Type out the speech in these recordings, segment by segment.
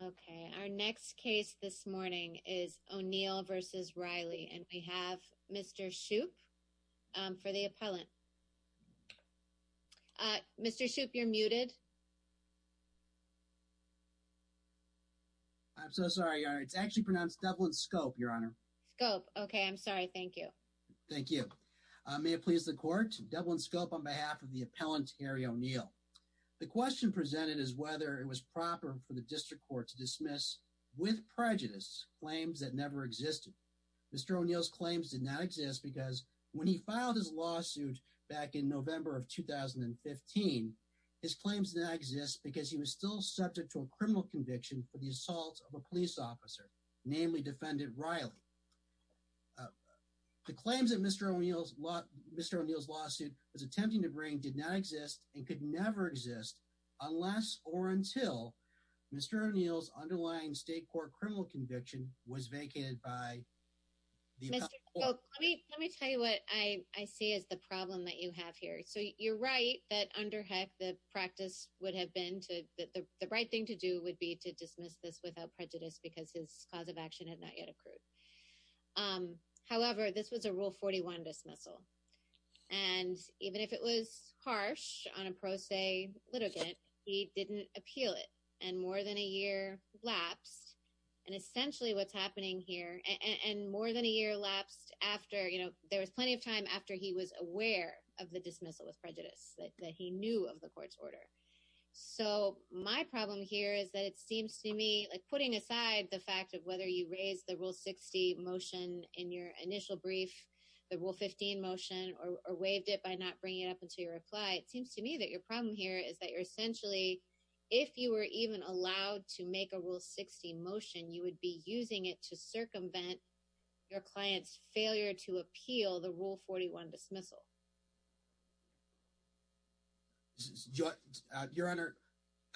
Okay, our next case this morning is O'Neal v. Reilly, and we have Mr. Shoup for the appellant. Uh, Mr. Shoup, you're muted. I'm so sorry, Your Honor. It's actually pronounced Dublin Scope, Your Honor. Scope. Okay, I'm sorry. Thank you. Thank you. May it please the Court? Dublin Scope on behalf of the appellant, Harry O'Neal. The question presented is whether it was proper for the District Court to dismiss, with prejudice, claims that never existed. Mr. O'Neal's claims did not exist because when he filed his lawsuit back in November of 2015, his claims did not exist because he was still subject to a criminal conviction for the assault of a police officer, namely Defendant Reilly. The claims that Mr. O'Neal's lawsuit was attempting to bring did not exist and could never exist unless or until Mr. O'Neal's underlying state court criminal conviction was vacated by the appellant. Let me tell you what I see as the problem that you have here. So you're right that under HEC the practice would have been to, the right thing to do would be to dismiss this without prejudice because his cause of action had not yet accrued. However, this was a Rule 41 dismissal, and even if it was harsh on a pro se litigant, he didn't appeal it. And more than a year lapsed, and essentially what's happening here, and more than a year lapsed after, you know, there was plenty of time after he was aware of the dismissal with prejudice that he knew of the court's order. So my problem here is that it seems to me, like putting aside the fact of whether you raise the Rule 60 motion in your initial brief, the Rule 15 motion, or waived it by not bringing it up until your reply, it seems to me that your problem here is that you're essentially, if you were even allowed to make a Rule 60 motion, you would be using it to circumvent your client's failure to appeal the Rule 41 dismissal. Your Honor,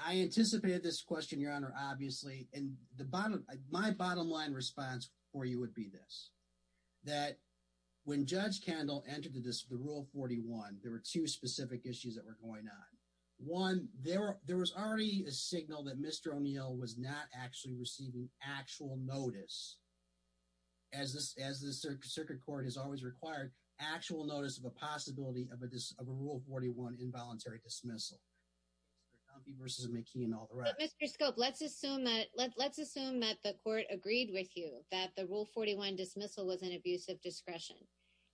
I anticipated this question, Your Honor, obviously, and my bottom line response for you would be this. That when Judge Kendall entered the Rule 41, there were two specific issues that were going on. One, there was already a signal that Mr. O'Neill was not actually receiving actual notice, as the circuit court has always required, actual notice of a possibility of a Rule 41 involuntary dismissal. Mr. Scope, let's assume that the court agreed with you that the Rule 41 dismissal was an abuse of discretion.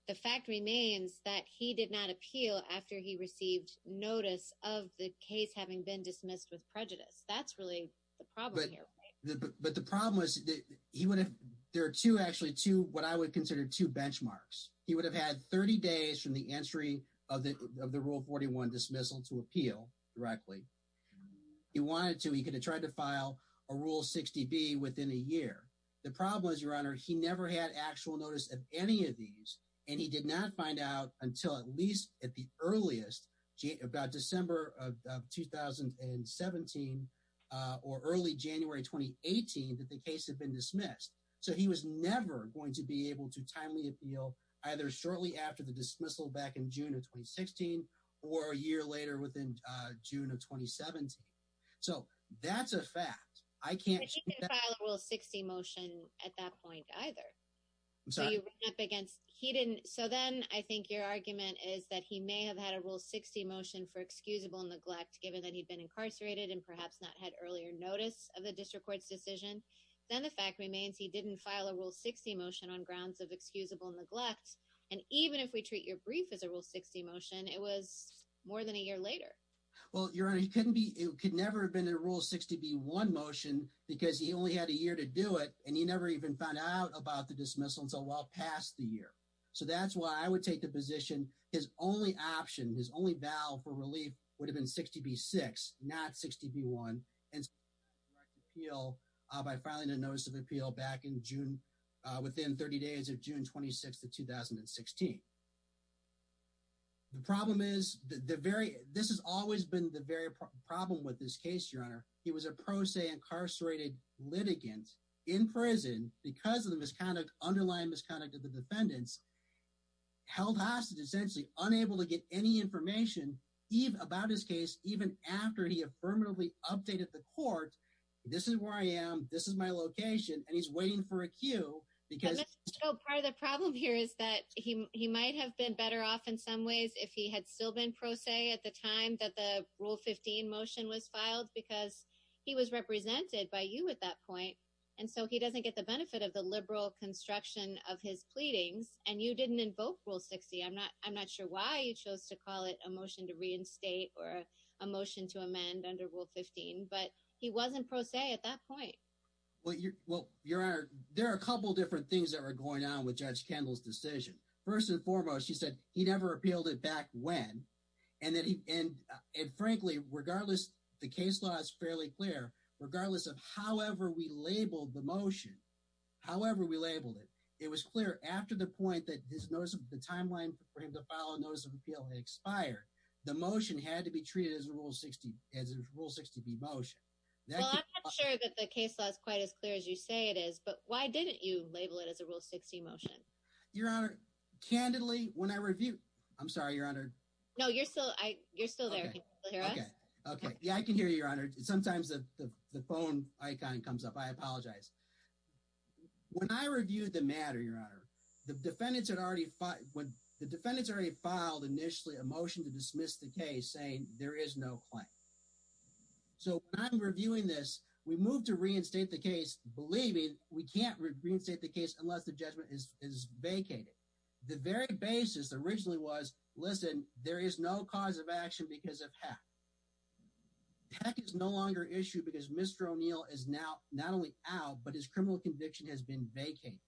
The fact remains that he did not appeal after he received notice of the case having been dismissed with prejudice. That's really the problem here. But the problem is that he would have, there are two, actually two, what I would consider two benchmarks. He would have had 30 days from the entry of the Rule 41 dismissal to appeal directly. He wanted to, he could have tried to file a Rule 60B within a year. The problem is, Your Honor, he never had actual notice of any of these, and he did not find out until at least at the earliest, about December of 2017 or early January 2018, that the case had been dismissed. So he was never going to be able to timely appeal either shortly after the dismissal back in June of 2016 or a year later within June of 2017. So that's a fact. But he didn't file a Rule 60 motion at that point either. I'm sorry. So you went up against, he didn't, so then I think your argument is that he may have had a Rule 60 motion for excusable neglect given that he'd been incarcerated and perhaps not had earlier notice of the district court's decision. Then the fact remains he didn't file a Rule 60 motion on grounds of excusable neglect. And even if we treat your brief as a Rule 60 motion, it was more than a year later. Well, Your Honor, he couldn't be, he could never have been in a Rule 60B-1 motion because he only had a year to do it, and he never even found out about the dismissal until well past the year. So that's why I would take the position his only option, his only vow for relief would have been 60B-6, not 60B-1. And so he filed a direct appeal by filing a notice of appeal back in June, within 30 days of June 26th of 2016. The problem is the very, this has always been the very problem with this case, Your Honor. He was a pro se incarcerated litigant in prison because of the underlying misconduct of the defendants. Held hostage, essentially unable to get any information about his case even after he affirmatively updated the court. This is where I am, this is my location, and he's waiting for a cue because- He was represented by you at that point, and so he doesn't get the benefit of the liberal construction of his pleadings, and you didn't invoke Rule 60. I'm not sure why you chose to call it a motion to reinstate or a motion to amend under Rule 15, but he wasn't pro se at that point. Well, Your Honor, there are a couple different things that were going on with Judge Kendall's decision. First and foremost, he said he never appealed it back when, and frankly, regardless, the case law is fairly clear. Regardless of however we labeled the motion, however we labeled it, it was clear after the point that the timeline for him to file a notice of appeal had expired. The motion had to be treated as a Rule 60B motion. Well, I'm not sure that the case law is quite as clear as you say it is, but why didn't you label it as a Rule 60 motion? Your Honor, candidly, when I reviewed- I'm sorry, Your Honor. No, you're still there. Can you still hear us? Yeah, I can hear you, Your Honor. Sometimes the phone icon comes up. I apologize. When I reviewed the matter, Your Honor, the defendants had already filed initially a motion to dismiss the case saying there is no claim. So when I'm reviewing this, we moved to reinstate the case believing we can't reinstate the case unless the judgment is vacated. The very basis originally was, listen, there is no cause of action because of hack. Hack is no longer an issue because Mr. O'Neill is now not only out, but his criminal conviction has been vacated.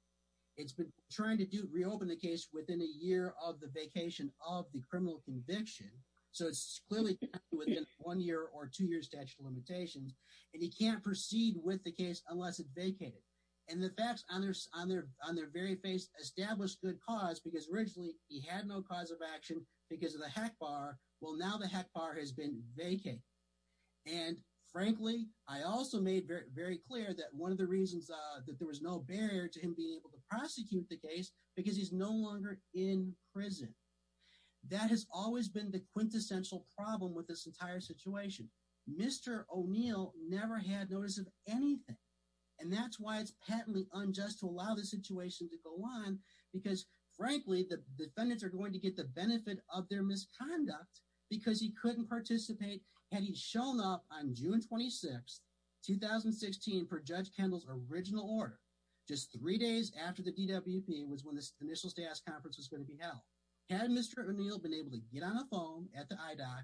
It's been trying to reopen the case within a year of the vacation of the criminal conviction. So it's clearly within one year or two years statute of limitations, and he can't proceed with the case unless it's vacated. And the facts on their very face established good cause because originally he had no cause of action because of the hack bar. Well, now the hack bar has been vacated. And frankly, I also made very clear that one of the reasons that there was no barrier to him being able to prosecute the case because he's no longer in prison. That has always been the quintessential problem with this entire situation. Mr. O'Neill never had notice of anything. And that's why it's patently unjust to allow the situation to go on, because frankly, the defendants are going to get the benefit of their misconduct because he couldn't participate. Had he shown up on June 26th, 2016 for Judge Kendall's original order, just three days after the DWP was when this initial staff conference was going to be held. Had Mr. O'Neill been able to get on a phone at the IDOC,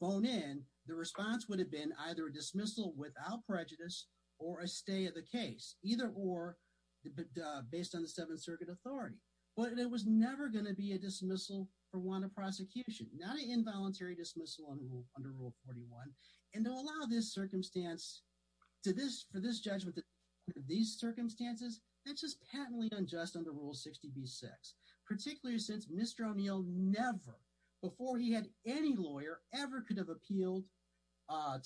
phone in, the response would have been either a dismissal without prejudice or a stay of the case, either or based on the Seventh Circuit authority. But it was never going to be a dismissal for want of prosecution, not an involuntary dismissal under Rule 41. And to allow this circumstance for this judgment, these circumstances, that's just patently unjust under Rule 60B-6. Particularly since Mr. O'Neill never, before he had any lawyer, ever could have appealed,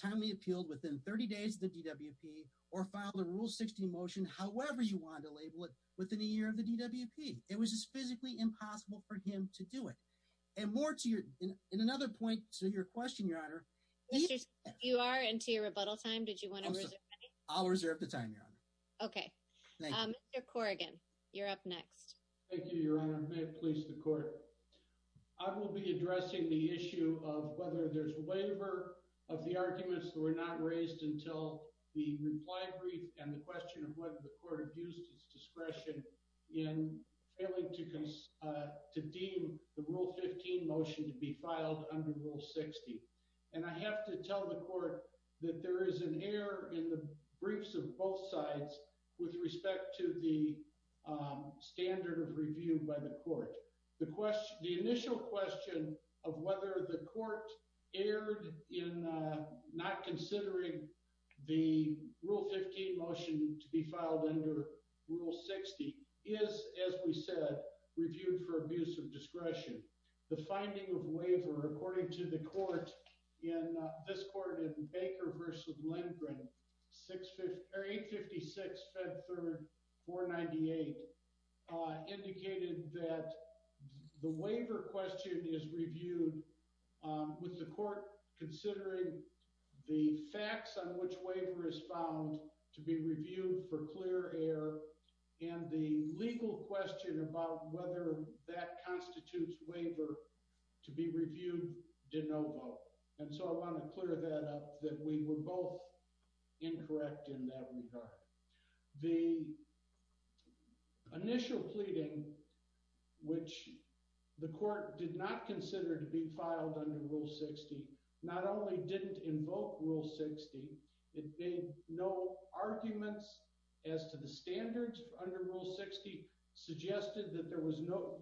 timely appealed within 30 days of the DWP or filed a Rule 60 motion, however you want to label it, within a year of the DWP. It was just physically impossible for him to do it. And more to your, and another point to your question, Your Honor. You are into your rebuttal time, did you want to reserve any? I'll reserve the time, Your Honor. Okay. Thank you. Mr. Corrigan, you're up next. Thank you, Your Honor. May it please the Court. I will be addressing the issue of whether there's a waiver of the arguments that were not raised until the reply brief and the question of whether the Court abused its discretion in failing to deem the Rule 15 motion to be filed under Rule 60. And I have to tell the Court that there is an error in the briefs of both sides with respect to the standard of review by the Court. The initial question of whether the Court erred in not considering the Rule 15 motion to be filed under Rule 60 is, as we said, reviewed for abuse of discretion. The finding of waiver, according to the Court in this Court in Baker v. Lindgren, 856, Fed 3rd, 498, indicated that the waiver question is reviewed with the Court considering the facts on which waiver is found to be reviewed for clear error and the legal question about whether that constitutes waiver to be reviewed de novo. And so I want to clear that up, that we were both incorrect in that regard. The initial pleading, which the Court did not consider to be filed under Rule 60, not only didn't invoke Rule 60, it made no arguments as to the standards under Rule 60, suggested that there was no,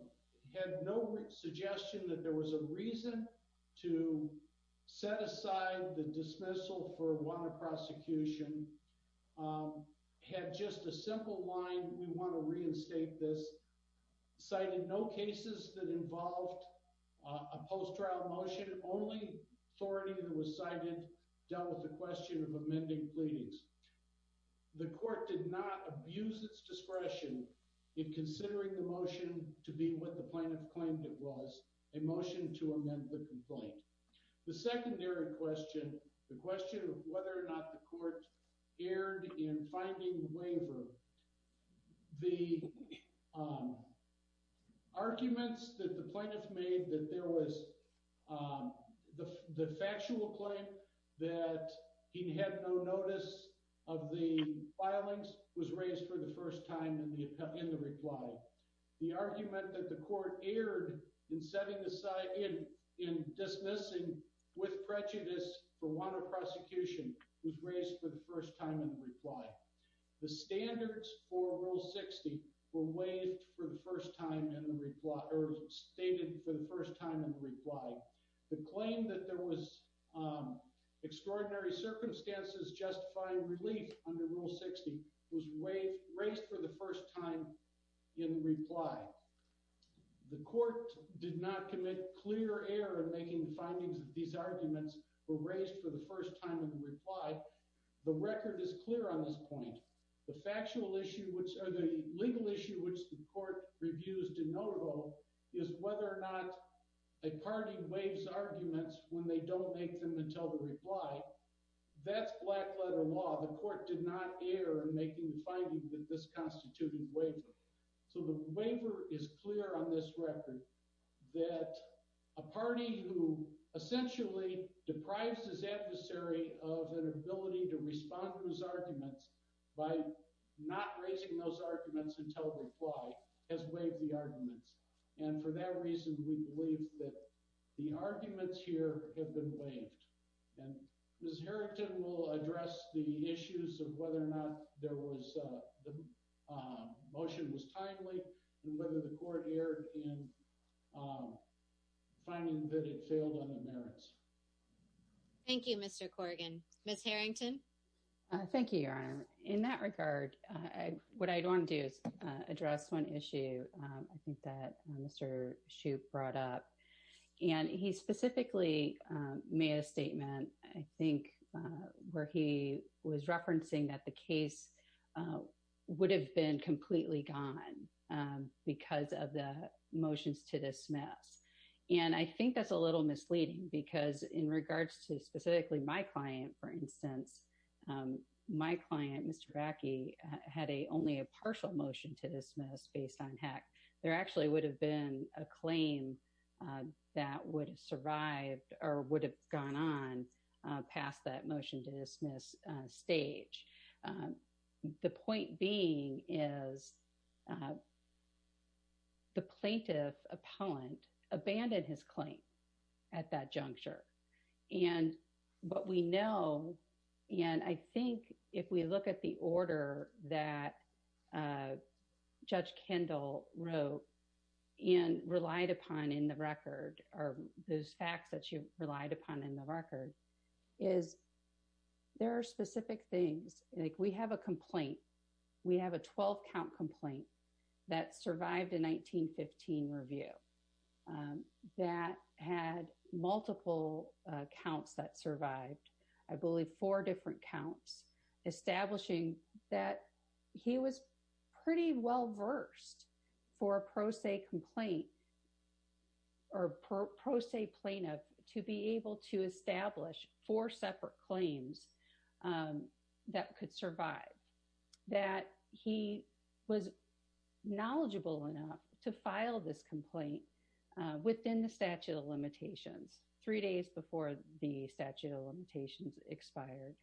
had no suggestion that there was a reason to set aside the dismissal for one of prosecution. Had just a simple line, we want to reinstate this, citing no cases that involved a post-trial motion, only authority that was cited dealt with the question of amending pleadings. The Court did not abuse its discretion in considering the motion to be what the plaintiff claimed it was, a motion to amend the complaint. The secondary question, the question of whether or not the Court erred in finding the waiver, the arguments that the plaintiff made that there was the factual claim that he had no notice of the filings was raised for the first time in the reply. The argument that the Court erred in setting aside, in dismissing with prejudice for one of prosecution was raised for the first time in the reply. The standards for Rule 60 were waived for the first time in the reply, or stated for the first time in the reply. The claim that there was extraordinary circumstances justifying relief under Rule 60 was raised for the first time in reply. The Court did not commit clear error in making the findings of these arguments were raised for the first time in the reply. The record is clear on this point. The factual issue, or the legal issue, which the Court reviews de novo is whether or not a party waives arguments when they don't make them until the reply. That's black-letter law. The Court did not err in making the finding that this constituted a waiver. So the waiver is clear on this record that a party who essentially deprives its adversary of an ability to respond to its arguments by not raising those arguments until reply has waived the arguments. And for that reason, we believe that the arguments here have been waived. And Ms. Harrington will address the issues of whether or not the motion was timely and whether the Court erred in finding that it failed on the merits. Thank you, Mr. Corrigan. Ms. Harrington? Thank you, Your Honor. In that regard, what I want to do is address one issue I think that Mr. Shoup brought up. And he specifically made a statement, I think, where he was referencing that the case would have been completely gone because of the motions to dismiss. And I think that's a little misleading because in regards to specifically my client, for instance, my client, Mr. Backe, had only a partial motion to dismiss based on HAC. There actually would have been a claim that would have survived or would have gone on past that motion to dismiss stage. The point being is the plaintiff appellant abandoned his claim at that juncture. And what we know, and I think if we look at the order that Judge Kendall wrote and relied upon in the record, or those facts that you relied upon in the record, is there are specific things. We have a complaint. We have a 12-count complaint that survived a 1915 review that had multiple counts that survived, I believe four different counts, establishing that he was pretty well versed for a pro se complaint or pro se plaintiff to be able to establish four separate claims that could survive, that he was knowledgeable enough to file this complaint within the statute of limitations, three days before the statute of limitations expired,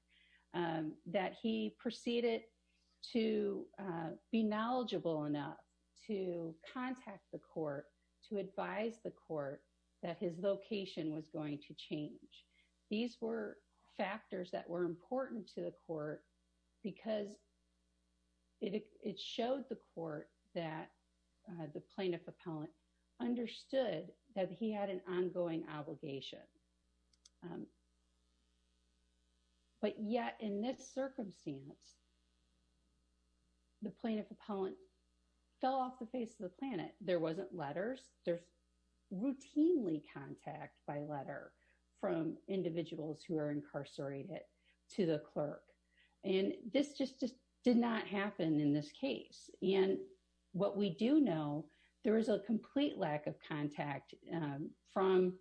that he proceeded to be knowledgeable enough to contact the court to advise the court that his location was going to change. These were factors that were important to the court because it showed the court that the plaintiff appellant understood that he had an ongoing obligation. But yet in this circumstance, the plaintiff appellant fell off the face of the planet. There wasn't letters. There's routinely contact by letter from individuals who are incarcerated to the clerk. And this just did not happen in this case. And what we do know, there was a complete lack of contact from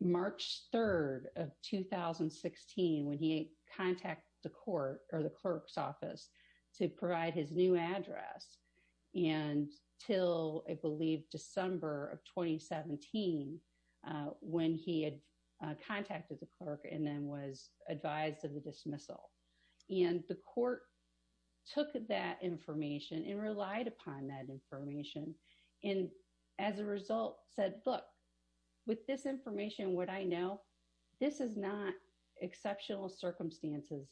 March 3rd of 2016, when he contacted the court or the clerk's office to provide his new address. And until I believe December of 2017, when he had contacted the clerk and then was advised of the dismissal. And the court took that information and relied upon that information. And as a result, said, look, with this information, what I know, this is not exceptional circumstances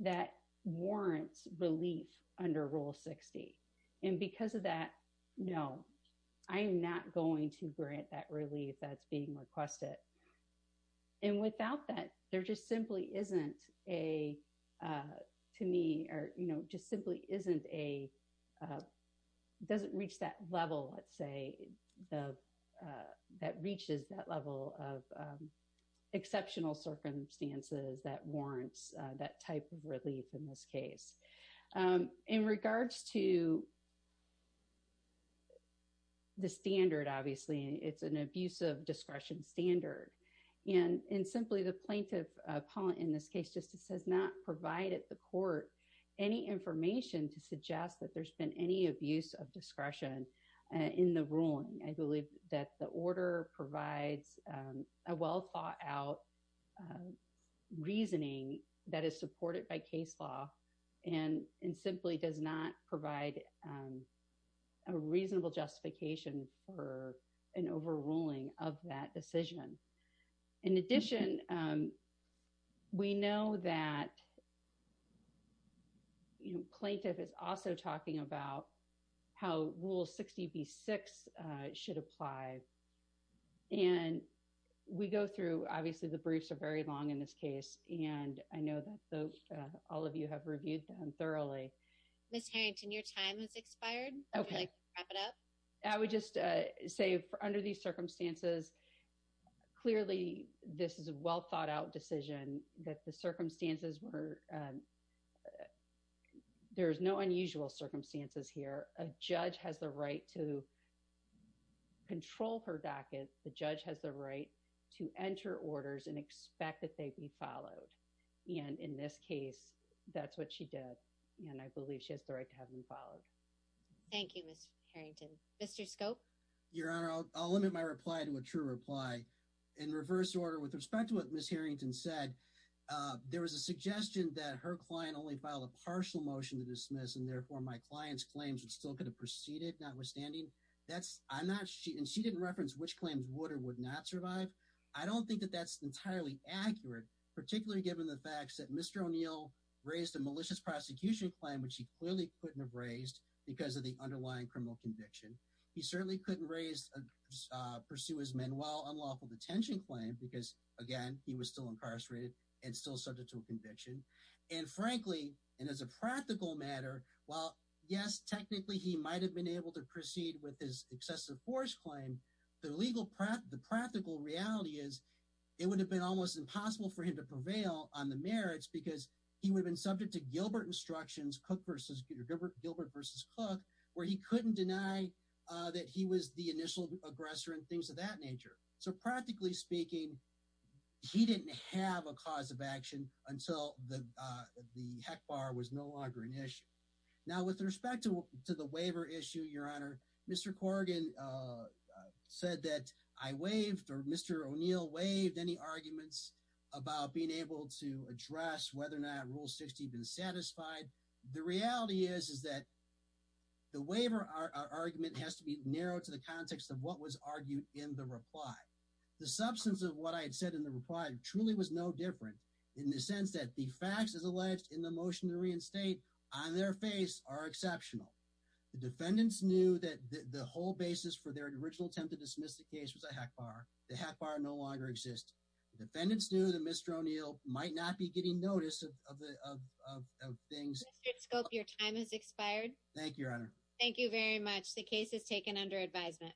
that warrants relief under Rule 60. And because of that, no, I am not going to grant that relief that's being requested. And without that, there just simply isn't a, to me, or just simply isn't a, doesn't reach that level, let's say, that reaches that level of exceptional circumstances that warrants that type of relief in this case. In regards to the standard, obviously, it's an abuse of discretion standard. And simply, the plaintiff, Paul, in this case, just has not provided the court any information to suggest that there's been any abuse of discretion in the ruling. I believe that the order provides a well thought out reasoning that is supported by case law and simply does not provide a reasonable justification for an overruling of that decision. In addition, we know that plaintiff is also talking about how Rule 60B6 should apply. And we go through, obviously, the briefs are very long in this case. And I know that all of you have reviewed them thoroughly. Ms. Harrington, your time has expired. Okay. Wrap it up. I would just say, under these circumstances, clearly, this is a well thought out decision that the circumstances were, there's no unusual circumstances here. A judge has the right to control her docket. The judge has the right to enter orders and expect that they be followed. And in this case, that's what she did. And I believe she has the right to have them followed. Thank you, Ms. Harrington. Mr. Scope? Your Honor, I'll limit my reply to a true reply. In reverse order, with respect to what Ms. Harrington said, there was a suggestion that her client only filed a partial motion to dismiss and, therefore, my client's claims would still could have proceeded, notwithstanding. That's, I'm not, and she didn't reference which claims would or would not survive. I don't think that that's entirely accurate, particularly given the fact that Mr. O'Neill raised a malicious prosecution claim, which he clearly couldn't have raised because of the underlying criminal conviction. He certainly couldn't raise, pursue his manual unlawful detention claim because, again, he was still incarcerated and still subject to a conviction. And, frankly, and as a practical matter, while, yes, technically he might have been able to proceed with his excessive force claim, the legal, the practical reality is it would have been almost impossible for him to prevail on the merits because he would have been subject to Gilbert instructions, Cook versus, Gilbert versus Cook, where he couldn't deny that he was the initial aggressor and things of that nature. So, practically speaking, he didn't have a cause of action until the HEC bar was no longer an issue. Now, with respect to the waiver issue, Your Honor, Mr. Corrigan said that I waived or Mr. O'Neill waived any arguments about being able to address whether or not Rule 60 had been satisfied. The reality is, is that the waiver argument has to be narrowed to the context of what was argued in the reply. The substance of what I had said in the reply truly was no different in the sense that the facts as alleged in the motion to reinstate on their face are exceptional. The defendants knew that the whole basis for their original attempt to dismiss the case was a HEC bar. The HEC bar no longer exists. The defendants knew that Mr. O'Neill might not be getting notice of things. Mr. Scope, your time has expired. Thank you, Your Honor. Thank you very much. The case is taken under advisement.